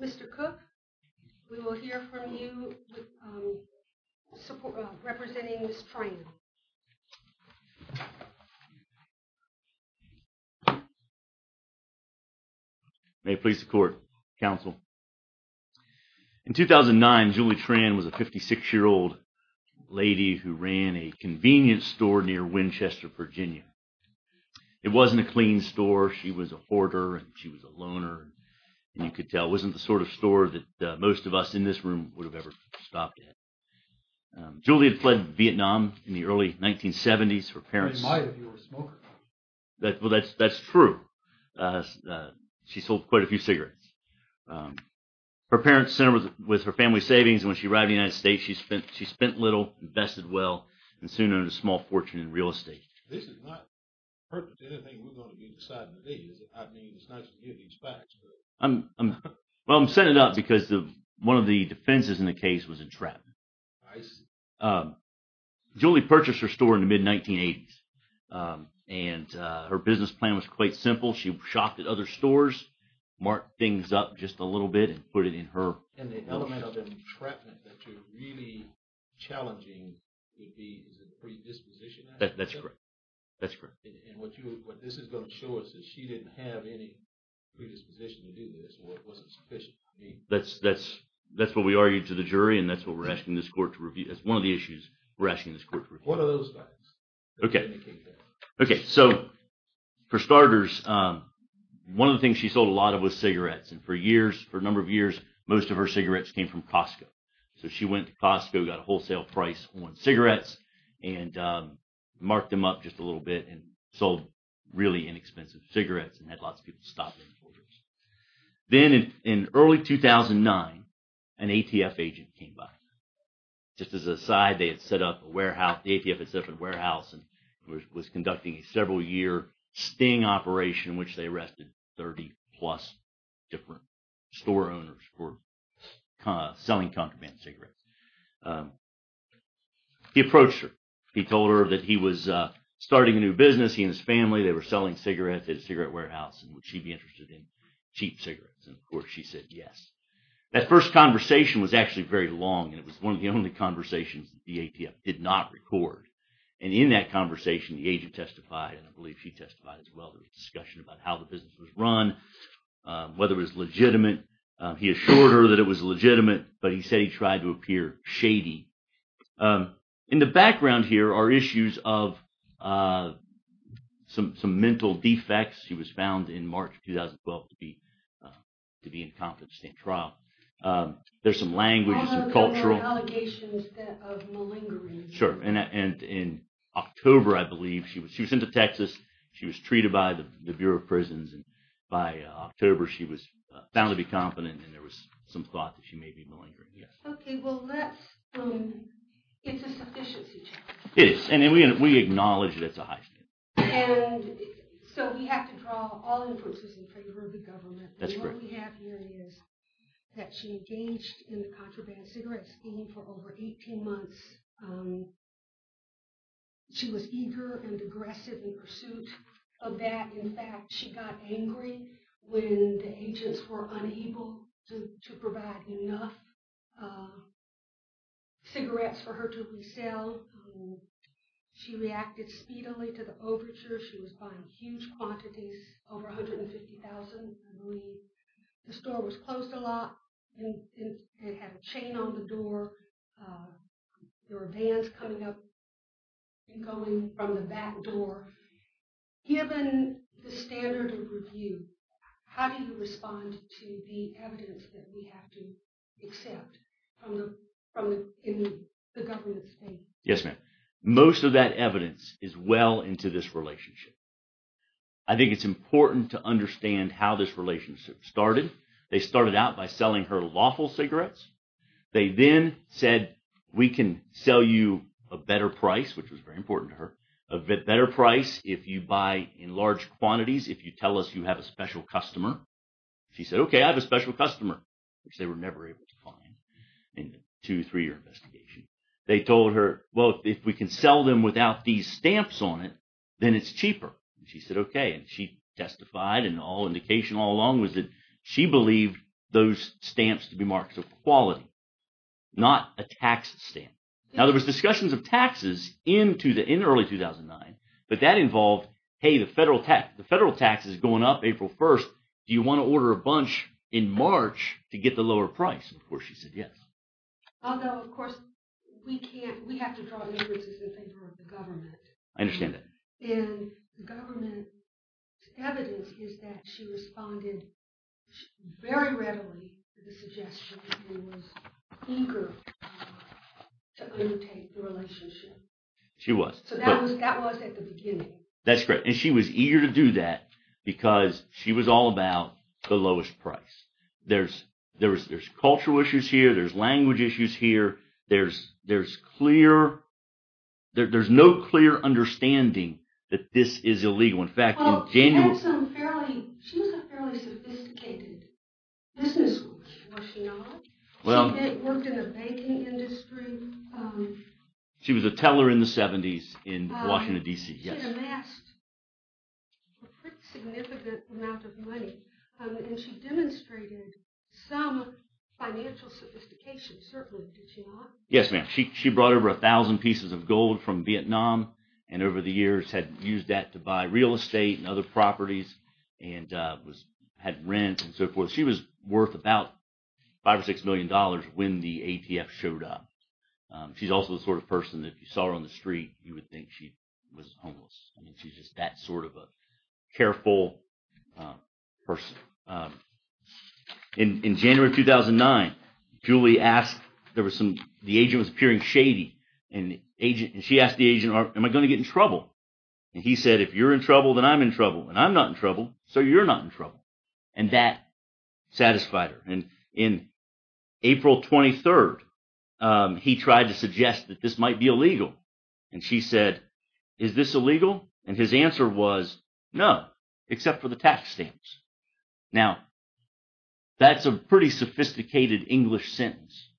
Mr. Cook, we will hear from you representing Ms. Tran. May it please the court, counsel. In 2009, Julie Tran was a 56-year-old lady who ran a convenience store near Winchester, Virginia. It wasn't a clean store. She was a hoarder and she was a loner. And you could tell it wasn't the sort of store that most of us in this room would have ever stopped at. Julie had fled Vietnam in the early 1970s. Her parents... I didn't mind if you were a smoker. Well, that's true. She sold quite a few cigarettes. Her parents sent her with her family savings. When she arrived in the United States, she spent little, invested well, and soon earned a small fortune in real estate. This is not pertinent to anything we're going to be deciding today. I mean, it's nice to hear these facts, but... Well, I'm setting it up because one of the defenses in the case was entrapment. Julie purchased her store in the mid-1980s, and her business plan was quite simple. She shopped at other stores, marked things up just a little bit, and put it in her... And the element of entrapment that you're really challenging would be, is it predisposition? That's correct. That's correct. And what this is going to show us is she didn't have any predisposition to do this, or it wasn't sufficient, I mean... That's what we argued to the jury, and that's what we're asking this court to review. That's one of the issues we're asking this court to review. What are those facts that indicate that? Okay. So, for starters, one of the things she sold a lot of was cigarettes. And for years, for a number of years, most of her cigarettes came from Costco. So she went to Costco, got a wholesale price on cigarettes, and marked them up just a little bit, and sold really inexpensive cigarettes, and had lots of people stop them for years. Then, in early 2009, an ATF agent came by. Just as an aside, they had set up a warehouse... The ATF had set up a warehouse and was conducting a several-year sting operation, which they arrested 30-plus different store owners for selling contraband cigarettes. And he approached her. He told her that he was starting a new business. He and his family, they were selling cigarettes at a cigarette warehouse, and would she be interested in cheap cigarettes? And, of course, she said yes. That first conversation was actually very long, and it was one of the only conversations the ATF did not record. And in that conversation, the agent testified, and I believe she testified as well, there was discussion about how the business was run, whether it was legitimate. He assured her that it was legitimate, but he said he tried to appear shady. In the background here are issues of some mental defects. She was found in March 2012 to be incompetent to stand trial. There's some language, some cultural... And there were allegations of malingering. Sure. And in October, I believe, she was sent to Texas. She was treated by the Bureau of Prisons, and by October, she was found to be competent, and there was some thought that she may be malingering. Yes. Okay. Well, it's a sufficiency challenge. It is, and we acknowledge that's a high standard. And so we have to draw all inferences in favor of the government. That's correct. What we have here is that she engaged in the contraband cigarette scheme for over 18 months. She was eager and aggressive in pursuit of that. In fact, she got angry when the agents were unable to provide enough cigarettes for her to resell. She reacted speedily to the overture. She was buying huge quantities, over 150,000, I believe. The store was closed a lot, and it had a chain on the door. There were vans coming up and going from the back door. Given the standard of review, how do you respond to the evidence that we have to accept in the government's face? Yes, ma'am. Most of that evidence is well into this relationship. I think it's important to understand how this relationship started. They started out by selling her lawful cigarettes. They then said, we can sell you a better price, which was very important to her, a better price if you buy in large quantities, if you tell us you have a special customer. She said, okay, I have a special customer, which they were never able to find in the two, three-year investigation. They told her, well, if we can sell them without these stamps on it, then it's cheaper. She said, okay, and she testified, and all indication all along was that she believed those stamps to be marks of quality, not a tax stamp. Now, there was discussions of taxes in early 2009, but that involved, hey, the federal tax is going up April 1st, do you want to order a bunch in March to get the lower price? Of course, she said yes. Although, of course, we have to draw the differences in favor of the government. I understand that. And the government's evidence is that she responded very readily to the suggestion, and was eager to undertake the relationship. She was. So that was at the beginning. That's correct, and she was eager to do that, because she was all about the lowest price. There's cultural issues here, there's language issues here, there's clear, there's no clear understanding that this is illegal. In fact, in January... Well, she had some fairly, she was a fairly sophisticated businesswoman, was she not? Well... She worked in the banking industry. She was a teller in the 70s in Washington, D.C., yes. She amassed a pretty significant amount of money, and she demonstrated some financial sophistication, certainly, did she not? Yes, ma'am. She brought over a thousand pieces of gold from Vietnam, and over the years had used that to buy real estate and other properties, and had rent and so forth. She was worth about five or six million dollars when the ATF showed up. She's also the sort of person that if you saw her on the street, you would think she was homeless. I mean, she's just that sort of a careful person. In January of 2009, Julie asked, there was some, the agent was appearing shady, and she asked the agent, am I going to get in trouble? And he said, if you're in trouble, then I'm in trouble. And I'm not in trouble, so you're not in trouble. And that satisfied her. And in April 23rd, he tried to suggest that this might be illegal. And she said, is this illegal? And his answer was, no, except for the tax stamps. Now, that's a pretty sophisticated English sentence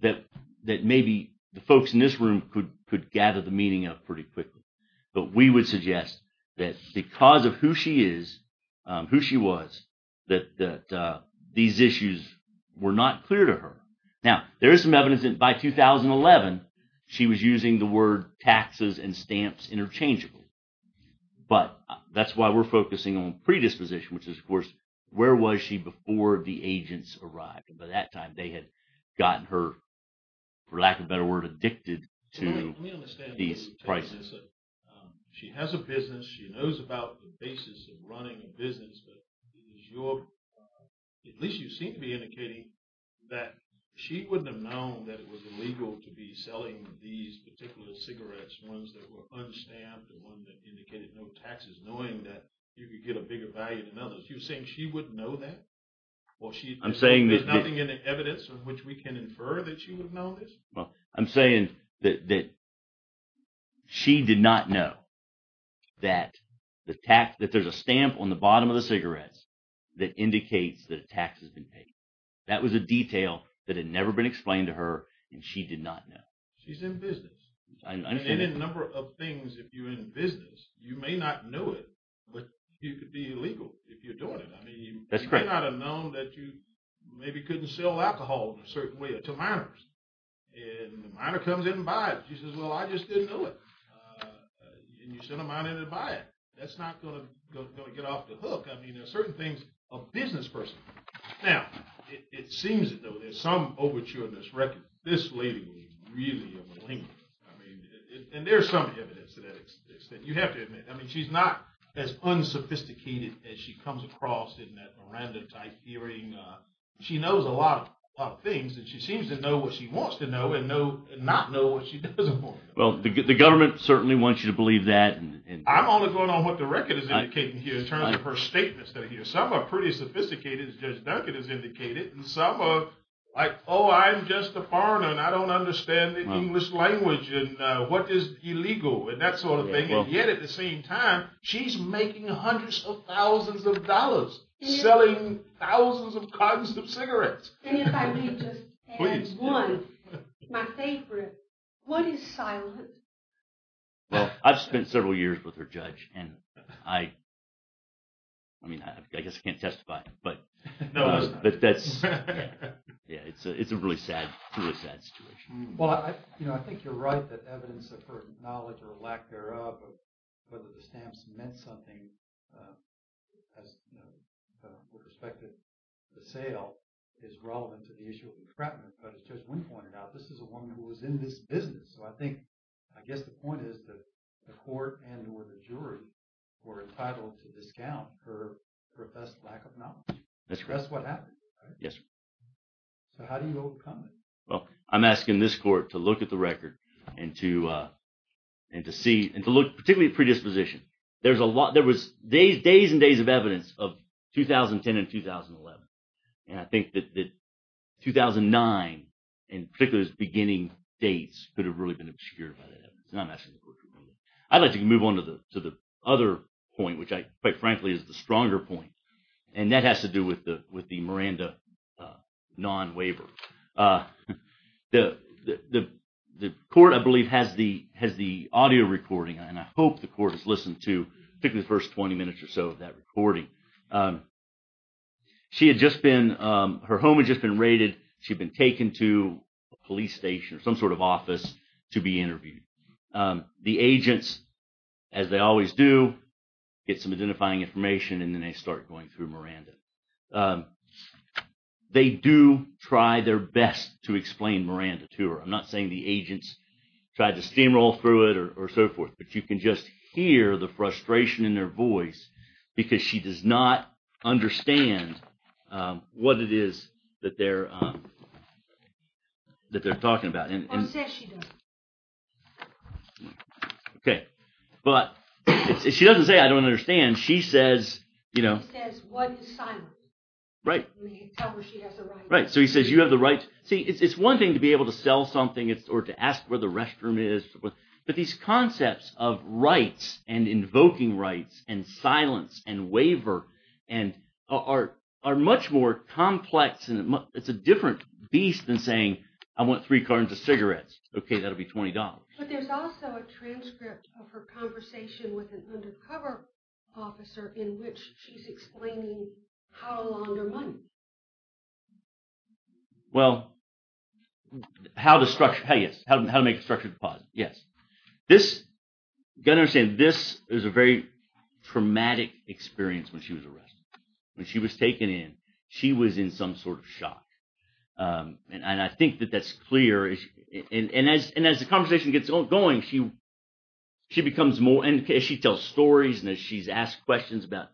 that maybe the folks in this room could gather the meaning of pretty quickly. But we would suggest that because of who she is, who she was, that these issues were not clear to her. Now, there is some evidence that by 2011, she was using the word taxes and stamps interchangeably. But that's why we're focusing on predisposition, which is, of course, where was she before the agents arrived? And by that time, they had gotten her, for lack of a better word, addicted to these prices. Let me understand what you're saying. She has a business. She knows about the basis of running a business. But at least you seem to be indicating that she wouldn't have known that it was illegal to be selling these particular cigarettes, ones that were un-stamped and one that indicated no taxes, knowing that you could get a bigger value than others. You're saying she wouldn't know that? Well, there's nothing in the evidence on which we can infer that she would know this? Well, I'm saying that she did not know that there's a stamp on the bottom of the cigarettes that indicates that a tax has been paid. That was a detail that had never been explained to her, and she did not know. She's in business. And in a number of things, if you're in business, you may not know it, but you could be illegal if you're doing it. I mean, you may not have known that you maybe couldn't sell alcohol in a certain way to minors. And the minor comes in and buys. She says, well, I just didn't know it. And you send a minor to buy it. That's not going to get off the hook. I mean, a certain thing's a business person. Now, it seems, though, there's some overture in this record. This lady was really a malignant. I mean, and there's some evidence to that extent. You have to admit, I mean, she's not as unsophisticated as she comes across in that Miranda type hearing. She knows a lot of things, and she seems to know what she wants to know and not know what she doesn't want to know. Well, the government certainly wants you to believe that. I'm only going on what the record is indicating here in terms of her statements that I hear. Some are pretty sophisticated, as Judge Duncan has indicated. And some are like, oh, I'm just a foreigner, and I don't understand the English language and what is illegal and that sort of thing. And yet, at the same time, she's making hundreds of thousands of dollars, selling thousands of cottons of cigarettes. And if I may just add one, my favorite, what is silence? Well, I've spent several years with her, Judge. And I mean, I guess I can't testify. But that's, yeah, it's a really sad, really sad situation. Well, I think you're right that evidence of her knowledge or lack thereof of whether the stamps meant something with respect to the sale is relevant to the issue of entrapment. But as Judge Wynn pointed out, this is a woman who was in this business. So I think, I guess the point is that the court and or the jury were entitled to discount her professed lack of knowledge. That's what happened, right? Yes, sir. So how do you overcome it? Well, I'm asking this court to look at the record and to see and to look particularly predisposition. There's a lot, there was days and days of evidence of 2010 and 2011. And I think that 2009, in particular, those beginning dates could have really been obscured by that evidence. And I'm asking the court to look at it. I'd like to move on to the other point, which I, quite frankly, is the stronger point. And that has to do with the Miranda non-waiver. The court, I believe, has the audio recording. And I hope the court has listened to particularly the first 20 minutes or so of that recording. She had just been, her home had just been raided. She'd been taken to a police station or some sort of office to be interviewed. The agents, as they always do, get some identifying information and then they start going through Miranda. They do try their best to explain Miranda to her. I'm not saying the agents tried to steamroll through it or so forth, but you can just hear the frustration in their voice because she does not understand what it is that they're talking about. Okay. But she doesn't say, I don't understand. She says, you know... She says, what is silence? Right. Right. So he says, you have the right... See, it's one thing to be able to sell something or to ask where the restroom is, but these invoking rights and silence and waiver are much more complex and it's a different beast than saying, I want three cartons of cigarettes. Okay, that'll be $20. But there's also a transcript of her conversation with an undercover officer in which she's explaining how to launder money. Well, how to make a structured deposit, yes. This, you've got to understand, this is a very traumatic experience when she was arrested. When she was taken in, she was in some sort of shock. And I think that that's clear. And as the conversation gets going, she tells stories and as she's asked questions about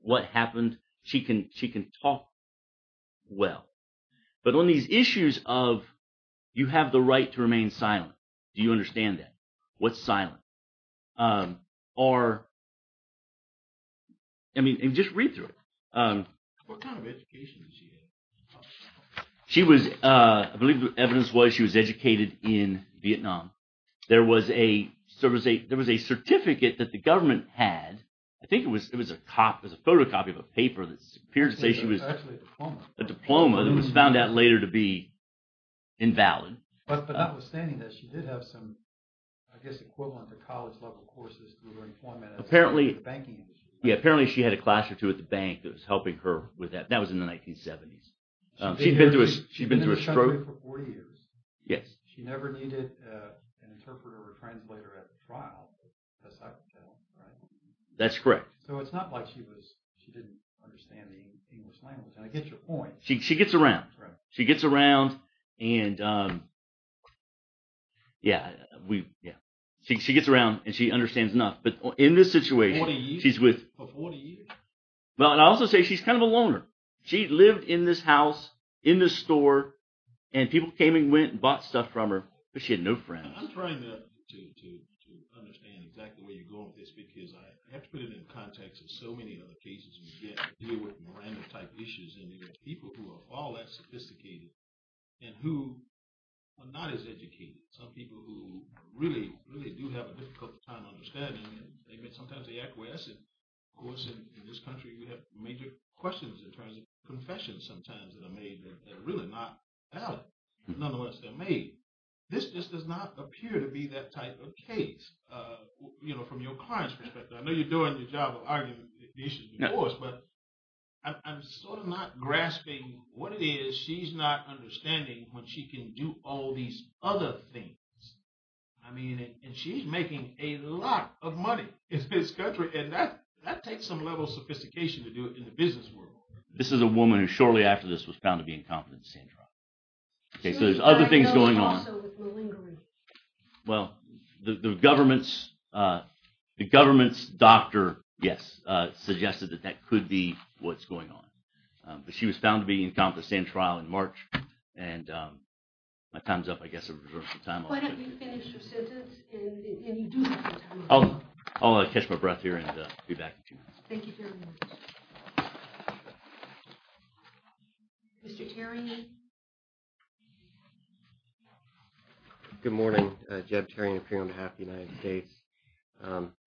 what happened, she can talk well. But on these issues of you have the right to remain silent, do you understand that? What's silent? Or, I mean, just read through it. What kind of education did she have? She was, I believe the evidence was she was educated in Vietnam. There was a certificate that the government had, I think it was a photocopy of a paper that appeared to say she was... It was actually a diploma. A diploma that was found out later to be invalid. But notwithstanding that, she did have some, I guess, equivalent to college-level courses through her employment as a banking industry. Yeah, apparently she had a class or two at the bank that was helping her with that. That was in the 1970s. She'd been in this country for 40 years. Yes. She never needed an interpreter or translator at the trial. That's correct. So it's not like she didn't understand the English language. And I get your point. She gets around. She gets around and she understands enough. But in this situation, she's with... For 40 years. Well, and I also say she's kind of a loner. She lived in this house, in this store, and people came and went and bought stuff from her, but she had no friends. I'm trying to understand exactly where you're going with this because I have to put it in context of so many other cases we get dealing with Miranda-type issues. People who are all that sophisticated and who are not as educated. Some people who really, really do have a difficult time understanding and sometimes they acquiesce. Of course, in this country, you have major questions in terms of confessions sometimes that are made that are really not valid. Nonetheless, they're made. This just does not appear to be that type of case from your client's perspective. I know you're doing the job of arguing the issue, of course, but I'm sort of not grasping what it is she's not understanding when she can do all these other things. I mean, and she's making a lot of money in this country and that takes some level of sophistication to do it in the business world. This is a woman who shortly after this was found to be incompetent, Sandra. Okay, so there's other things going on. Well, the government's doctor, yes, suggested that that could be what's going on. But she was found to be incompetent in trial in March and my time's up, I guess. Why don't you finish your sentence and you do have some time left. I'll catch my breath here and be back in two minutes. Thank you very much. Mr. Terrion. Good morning, Jeb Terrion, appearing on behalf of the United States.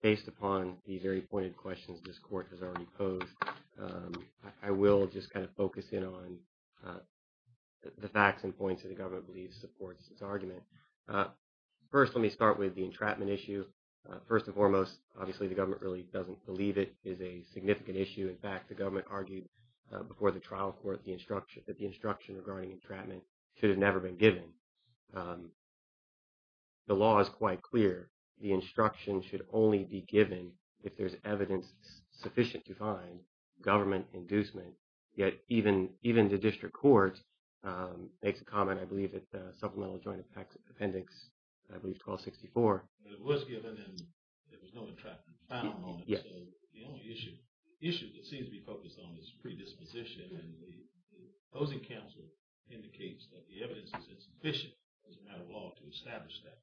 Based upon the very pointed questions this court has already posed, I will just kind of focus in on the facts and points that the government believes supports its argument. First, let me start with the entrapment issue. First and foremost, obviously, the government really doesn't believe it is a significant issue. In fact, the government argued before the trial court that the instruction regarding entrapment should have never been given. The law is quite clear. The instruction should only be given if there's evidence sufficient to find government inducement. Yet even the district court makes a comment, I believe, at Supplemental Joint Appendix 1264. It was given and there was no entrapment found on it. The only issue that seems to be focused on is predisposition. And the opposing counsel indicates that the evidence is sufficient as a matter of law to establish that.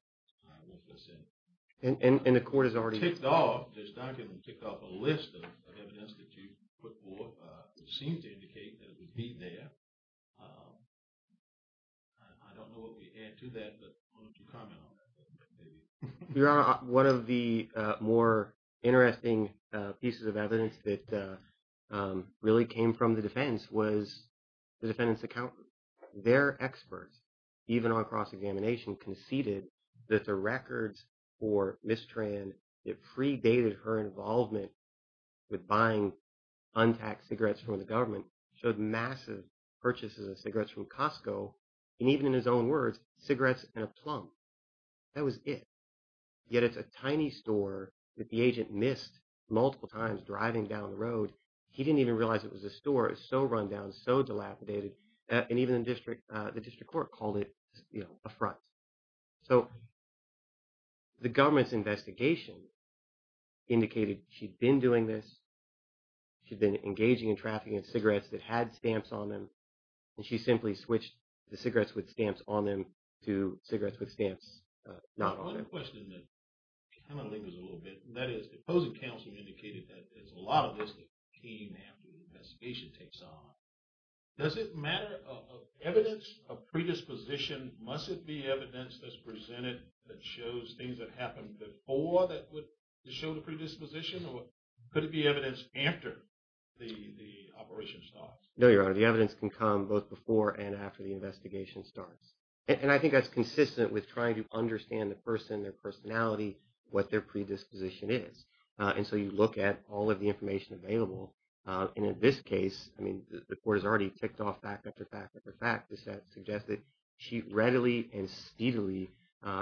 And the court has already ticked off a list of evidence that you put forth that seems to indicate that it would be there. I don't know what we add to that, but why don't you comment on that? Your Honor, one of the more interesting pieces of evidence that really came from the defense was the defendant's accountant. Their experts, even on cross-examination, conceded that the records for Ms. Tran that predated her involvement with buying untaxed cigarettes from the government showed massive purchases of cigarettes from Costco. And even in his own words, cigarettes and a plum. That was it. Yet it's a tiny store that the agent missed multiple times driving down the road. He didn't even realize it was a store. It's so run down, so dilapidated. And even the district court called it a front. So the government's investigation indicated she'd been doing this. She'd been engaging in trafficking in cigarettes that had stamps on them. She simply switched the cigarettes with stamps on them to cigarettes with stamps not on them. I have a question that kind of lingers a little bit. That is, the opposing counsel indicated that there's a lot of this that came after the investigation takes on. Does it matter of evidence of predisposition? Must it be evidence that's presented that shows things that happened before that would show the predisposition? Or could it be evidence after the operation starts? No, Your Honor. The evidence can come both before and after the investigation starts. And I think that's consistent with trying to understand the person, their personality, what their predisposition is. And so you look at all of the information available. And in this case, I mean, the court has already ticked off fact after fact after fact to suggest that she readily and steadily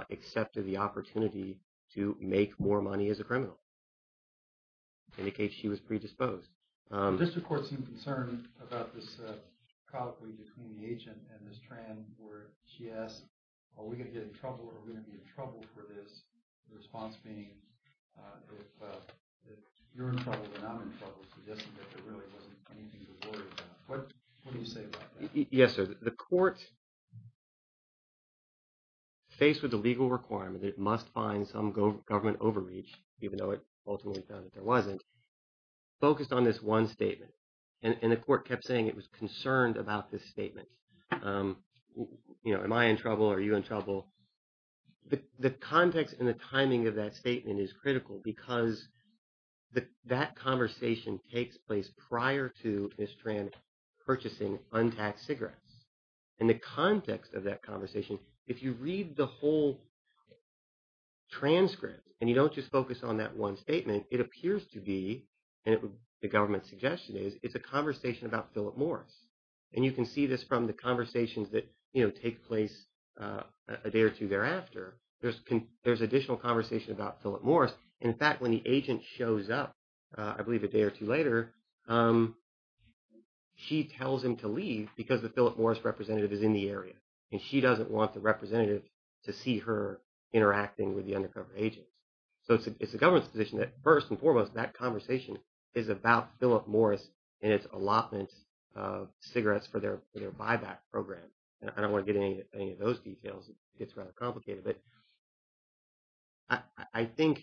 accepted the opportunity to make more money as a criminal. Indicate she was predisposed. District Court seemed concerned about this colloquy between the agent and Ms. Tran where she asked, are we going to get in trouble or are we going to be in trouble for this? The response being, if you're in trouble, then I'm in trouble, suggesting that there really wasn't anything to worry about. What do you say about that? Yes, sir. The court faced with the legal requirement that it must find some government overreach, even though it ultimately found that there wasn't, focused on this one statement. And the court kept saying it was concerned about this statement. You know, am I in trouble? Are you in trouble? The context and the timing of that statement is critical because that conversation takes place prior to Ms. Tran purchasing untaxed cigarettes. In the context of that conversation, if you read the whole transcript and you don't just focus on that one statement, it appears to be, and the government's suggestion is, it's a conversation about Philip Morris. And you can see this from the conversations that take place a day or two thereafter. There's additional conversation about Philip Morris. In fact, when the agent shows up, I believe a day or two later, she tells him to leave because the Philip Morris representative is in the area. And she doesn't want the representative to see her interacting with the undercover agent. So it's the government's position that first and foremost, that conversation is about Philip Morris and its allotment of cigarettes for their buyback program. And I don't want to get into any of those details. It's rather complicated. But I think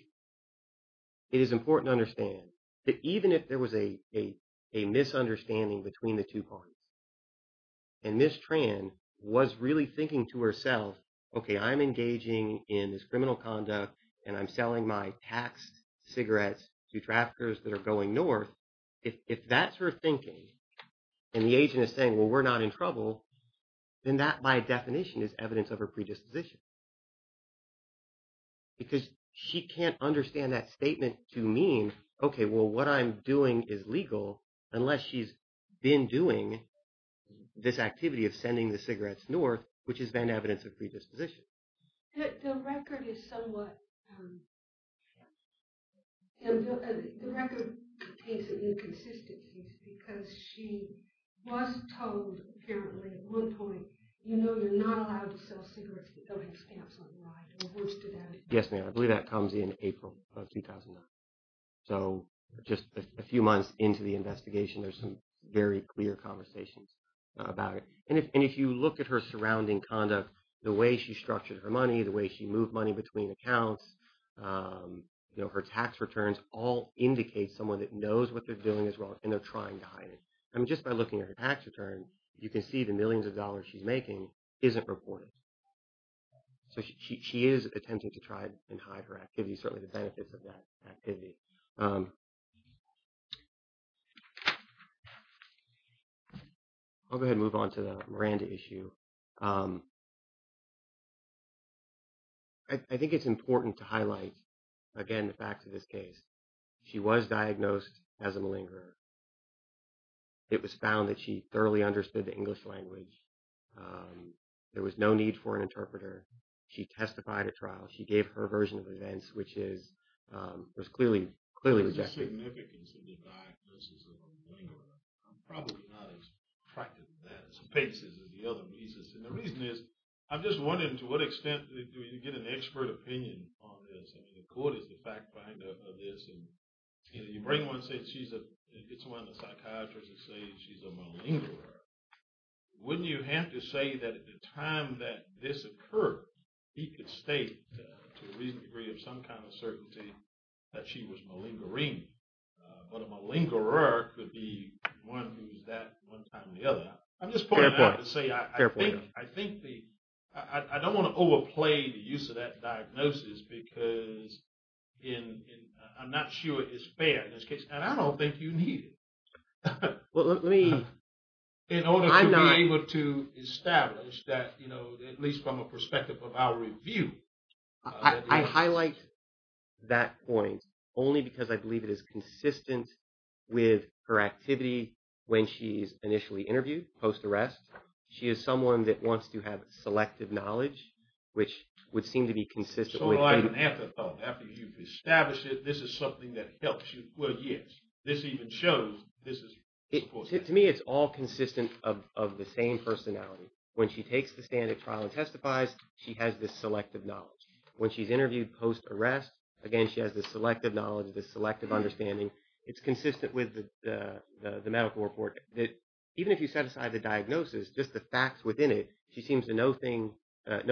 it is important to understand that even if there was a misunderstanding between the two parties, and Ms. Tran was really thinking to herself, okay, I'm engaging in this criminal conduct and I'm selling my taxed cigarettes to traffickers that are going north, if that's her thinking, and the agent is saying, well, we're not in trouble, then that by definition is evidence of her predisposition. Because she can't understand that statement to mean, okay, well, what I'm doing is legal unless she's been doing this activity of sending the cigarettes north, which has been evidence of predisposition. The record is somewhat... The record contains inconsistencies because she was told apparently at one point, you know, you're not allowed to sell cigarettes without having stamps on the line. Yes, ma'am. I believe that comes in April of 2009. So just a few months into the investigation, there's some very clear conversations about it. And if you look at her surrounding conduct, the way she structured her money, the way she moved money between accounts, you know, her tax returns all indicate someone that knows what they're doing is wrong and they're trying to hide it. I mean, just by looking at her tax return, you can see the millions of dollars she's making isn't reported. So she is attempting to try and hide her activities, certainly the benefits of that activity. I'll go ahead and move on to the Miranda issue. I think it's important to highlight, again, the facts of this case. She was diagnosed as a malingerer. It was found that she thoroughly understood the English language. There was no need for an interpreter. She testified at trial. She gave her version of events, which was clearly rejected. What's the significance of the diagnosis of a malingerer? I'm probably not as attracted to that as the other pieces. And the reason is, I'm just wondering, to what extent do we get an expert opinion on this? I mean, the court is the fact finder of this. And you bring one, say she's a, it's one of the psychiatrists that say she's a malingerer. Wouldn't you have to say that at the time that this occurred, he could state to a reasonable degree of some kind of certainty that she was malingering? But a malingerer could be one who's that one time or the other. I'm just pointing out to say, I think the, I don't want to overplay the use of that diagnosis because in, I'm not sure it's fair in this case. And I don't think you need it. Well, let me. In order to be able to establish that, at least from a perspective of our review. I highlight that point only because I believe it is consistent with her activity when she's initially interviewed, post-arrest. She is someone that wants to have selective knowledge, which would seem to be consistent. So like an antithought, after you've established it, this is something that helps you. Well, yes. This even shows this is. To me, it's all consistent of the same personality. When she takes the stand at trial and testifies, she has this selective knowledge. When she's interviewed post-arrest, again, she has this selective knowledge, this selective understanding. It's consistent with the medical report that even if you set aside the diagnosis, just the facts within it, she seems to know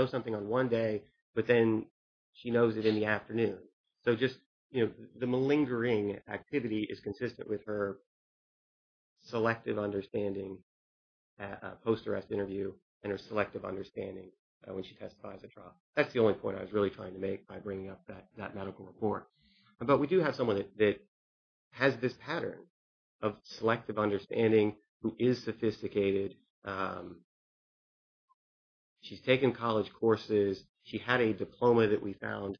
something on one day, but then she knows it in the afternoon. So just the malingering activity is consistent with her selective understanding at a post-arrest interview and her selective understanding when she testifies at trial. That's the only point I was really trying to make by bringing up that medical report. But we do have someone that has this pattern of selective understanding, who is sophisticated. She's taken college courses. She had a diploma that we found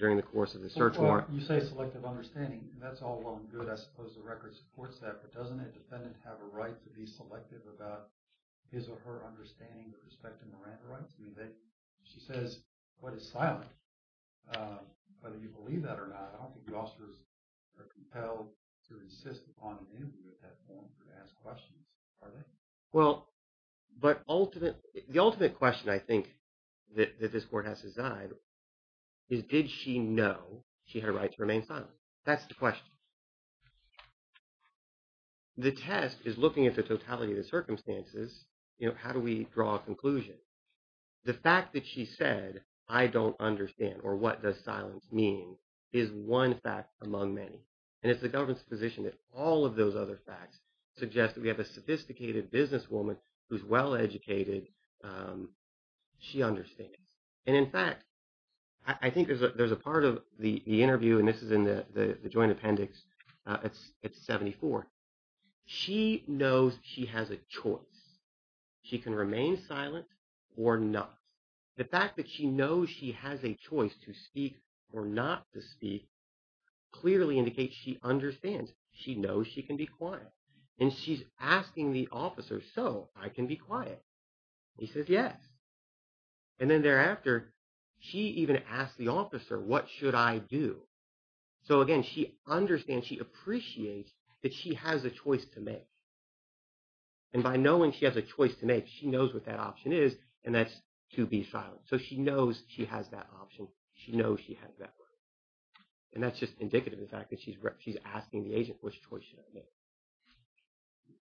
during the course of the search warrant. You say selective understanding. That's all well and good. I suppose the record supports that. But doesn't a defendant have a right to be selective about his or her understanding with respect to Miranda rights? She says what is silent, whether you believe that or not. I don't think the officers are compelled to insist upon an interview at that point or to ask questions, are they? Well, but the ultimate question I think that this court has to decide is, did she know she had a right to remain silent? That's the question. The test is looking at the totality of the circumstances, how do we draw a conclusion? The fact that she said, I don't understand, or what does silence mean, is one fact among many. And it's the government's position that all of those other facts suggest that we have a sophisticated businesswoman who's well-educated, she understands. And in fact, I think there's a part of the interview, and this is in the joint appendix, it's 74. She knows she has a choice. She can remain silent or not. The fact that she knows she has a choice to speak or not to speak clearly indicates she understands. She knows she can be quiet. And she's asking the officer, so I can be quiet? He says, yes. And then thereafter, she even asked the officer, what should I do? So again, she understands, she appreciates that she has a choice to make. And by knowing she has a choice to make, she knows what that option is, and that's to be silent. So she knows she has that option. She knows she has that right. And that's just indicative of the fact that she's asking the agent, which choice should I make?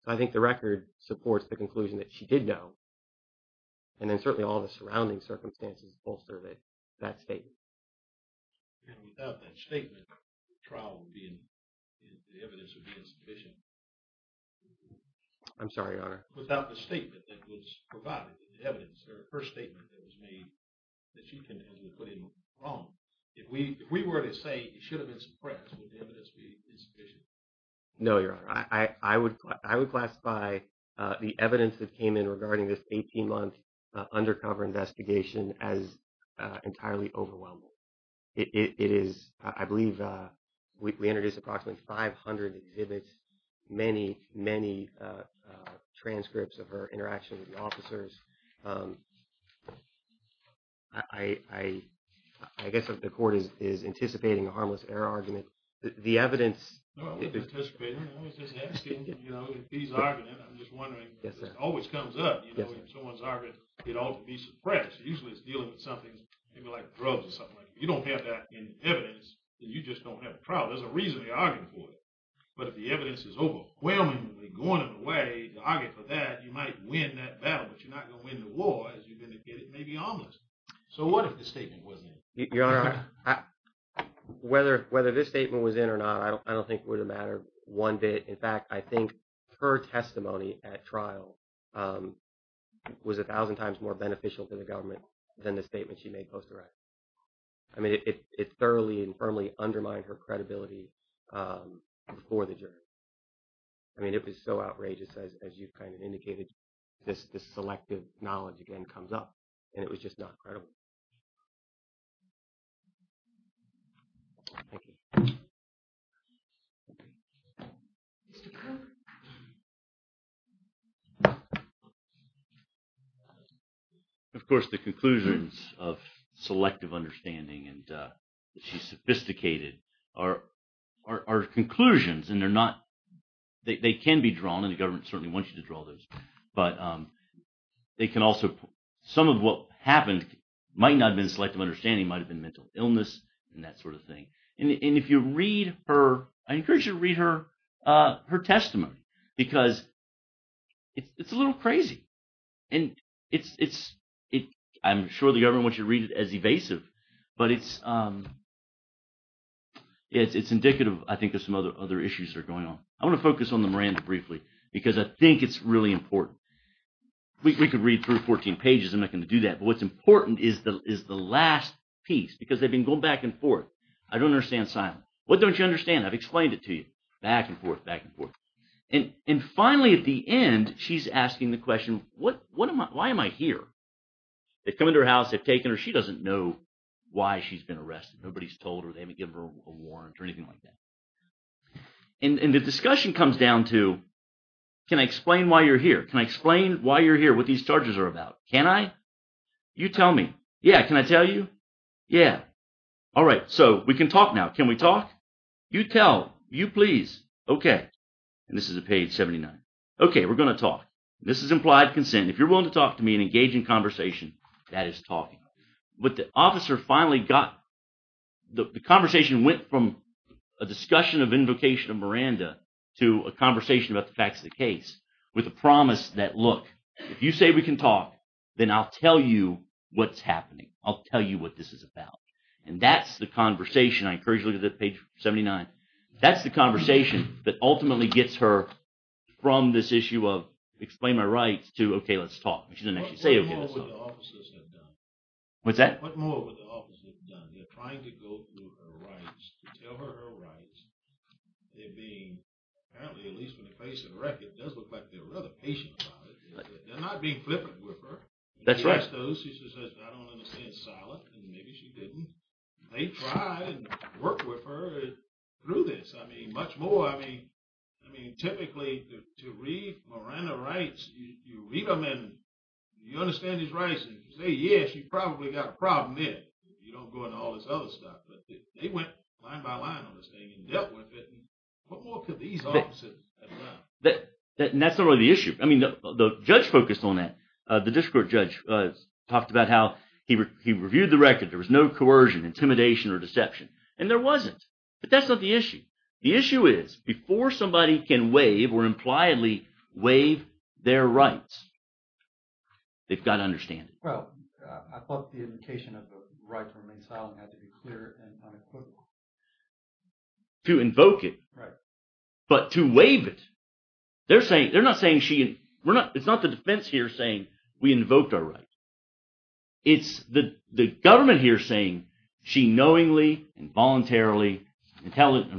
So I think the record supports the conclusion that she did know. And then certainly all the surrounding circumstances bolster that statement. And without that statement, the trial would be, the evidence would be insufficient. I'm sorry, Your Honor. Without the statement that was provided, the evidence, her first statement that was made, that she can put in wrong. If we were to say it should have been suppressed, would the evidence be insufficient? No, Your Honor. I would classify the evidence that came in regarding this 18-month undercover investigation as entirely overwhelming. It is, I believe, we introduced approximately 500 exhibits, many, many transcripts of her interaction with the officers. I guess the court is anticipating a harmless error argument. The evidence... I wasn't anticipating it. I was just asking, you know, if he's arguing, I'm just wondering, this always comes up, you know, if someone's arguing it ought to be suppressed. Usually it's dealing with something, maybe like drugs or something like that. You don't have that in evidence, then you just don't have a trial. There's a reason they're arguing for it. But if the evidence is overwhelmingly going in a way to argue for that, you might win that battle. But you're not going to win the war, as you've indicated, maybe harmless. So what if the statement was in? Your Honor, whether this statement was in or not, I don't think it would have mattered one bit. In fact, I think her testimony at trial was a thousand times more beneficial to the government than the statement she made post arrest. I mean, it thoroughly and firmly undermined her credibility before the jury. I mean, it was so outrageous, as you've kind of indicated, this selective knowledge again comes up, and it was just not credible. Thank you. Of course, the conclusions of selective understanding, and she's sophisticated, are conclusions, and they're not, they can be drawn, and the government certainly wants you to draw those, but they can also, some of what happened might not have been selective understanding, might have been mental illness, and that sort of thing. And if you read her, I encourage you to read her testimony, because it's a little crazy. And I'm sure the government wants you to read it as evasive, but it's indicative, I think, of some other issues that are going on. I want to focus on the Miranda briefly, because I think it's really important. We could read through 14 pages, I'm not going to do that. What's important is the last piece, because they've been going back and forth. I don't understand Simon. What don't you understand? I've explained it to you. Back and forth, back and forth. And finally, at the end, she's asking the question, why am I here? They've come into her house, they've taken her. She doesn't know why she's been arrested. Nobody's told her, they haven't given her a warrant, or anything like that. And the discussion comes down to, can I explain why you're here? Can I explain why you're here, what these charges are about? Can I? You tell me. Yeah, can I tell you? Yeah. All right, so we can talk now. Can we talk? You tell. You please. Okay. And this is at page 79. Okay, we're going to talk. This is implied consent. If you're willing to talk to me and engage in conversation, that is talking. But the officer finally got, the conversation went from a discussion of invocation of Miranda to a conversation about the facts of the case, with a promise that, look, if you say we can talk, then I'll tell you what's happening. I'll tell you what this is about. And that's the conversation, I encourage you to look at page 79. That's the conversation that ultimately gets her from this issue of, explain my rights, to, okay, let's talk. But she didn't actually say it. What more would the officers have done? What's that? What more would the officers have done? They're trying to go through her rights, to tell her her rights. They're being, apparently, at least from the face of the record, it does look like they're rather patient about it. They're not being flippant with her. That's right. She says, I don't understand, silent, and maybe she didn't. They try and work with her through this. I mean, much more. I mean, typically, to read Miranda rights, you read them and you understand his rights, and you say, yeah, she probably got a problem there. You don't go into all this other stuff. But they went line by line on this thing and dealt with it. And what more could these officers have done? That's not really the issue. I mean, the judge focused on that. The district court judge talked about how he reviewed the record. There was no coercion, intimidation, or deception. And there wasn't. But that's not the issue. The issue is, before somebody can waive or impliedly waive their rights, they've got to understand it. Well, I thought the indication of the right to remain silent had to be clear and unequivocal. To invoke it. Right. But to waive it. They're saying, they're not saying she, it's not the defense here saying we invoked our right. It's the government here saying she knowingly and voluntarily, I'm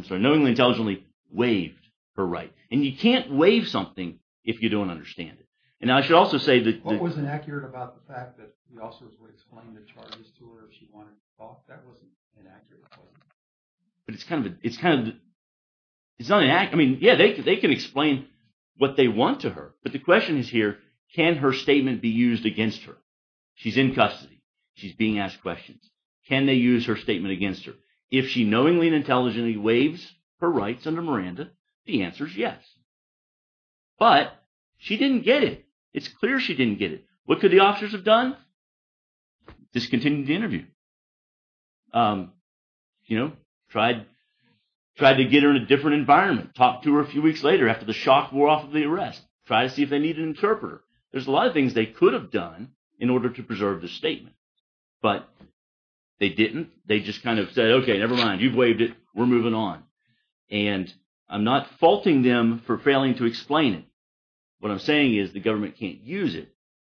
sorry, knowingly and intelligently waived her right. And you can't waive something if you don't understand it. And I should also say that- What was inaccurate about the fact that the officers would explain the charges to her if she wanted to talk? That wasn't inaccurate. But it's kind of, it's not inaccurate. Yeah, they can explain what they want to her. But the question is here, can her statement be used against her? She's in custody. She's being asked questions. Can they use her statement against her? If she knowingly and intelligently waives her rights under Miranda, the answer is yes. But she didn't get it. It's clear she didn't get it. What could the officers have done? Discontinued the interview. You know, tried to get her in a different environment. Talked to her a few weeks later after the shock wore off of the arrest. Try to see if they need an interpreter. There's a lot of things they could have done in order to preserve the statement. But they didn't. They just kind of said, okay, never mind. You've waived it. We're moving on. And I'm not faulting them for failing to explain it. What I'm saying is the government can't use it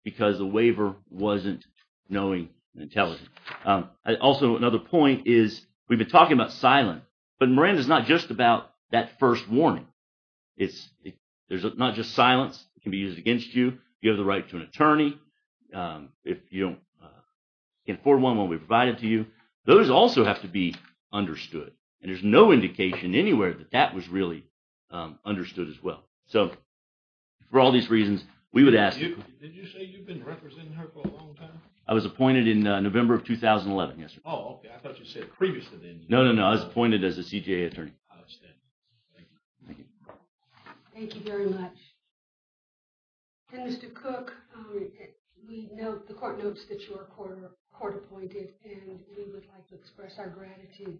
because the waiver wasn't knowing and intelligent. Also, another point is we've been talking about silent. But Miranda is not just about that first warning. There's not just silence. It can be used against you. You have the right to an attorney. If you can't afford one when we provide it to you. Those also have to be understood. And there's no indication anywhere that that was really understood as well. So for all these reasons, we would ask you. Did you say you've been representing her for a long time? I was appointed in November of 2011, yes. Oh, okay. I thought you said previously then. No, no, no. I was appointed as a CJA attorney. I understand. Thank you. Thank you. Thank you very much. And Mr. Cook, the court notes that you are court appointed. And we would like to express our gratitude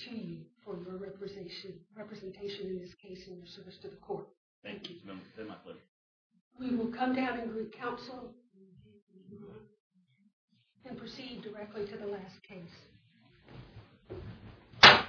to you for your representation in this case and your service to the court. Thank you. We will come down in group counsel and proceed directly to the last case. Thank you.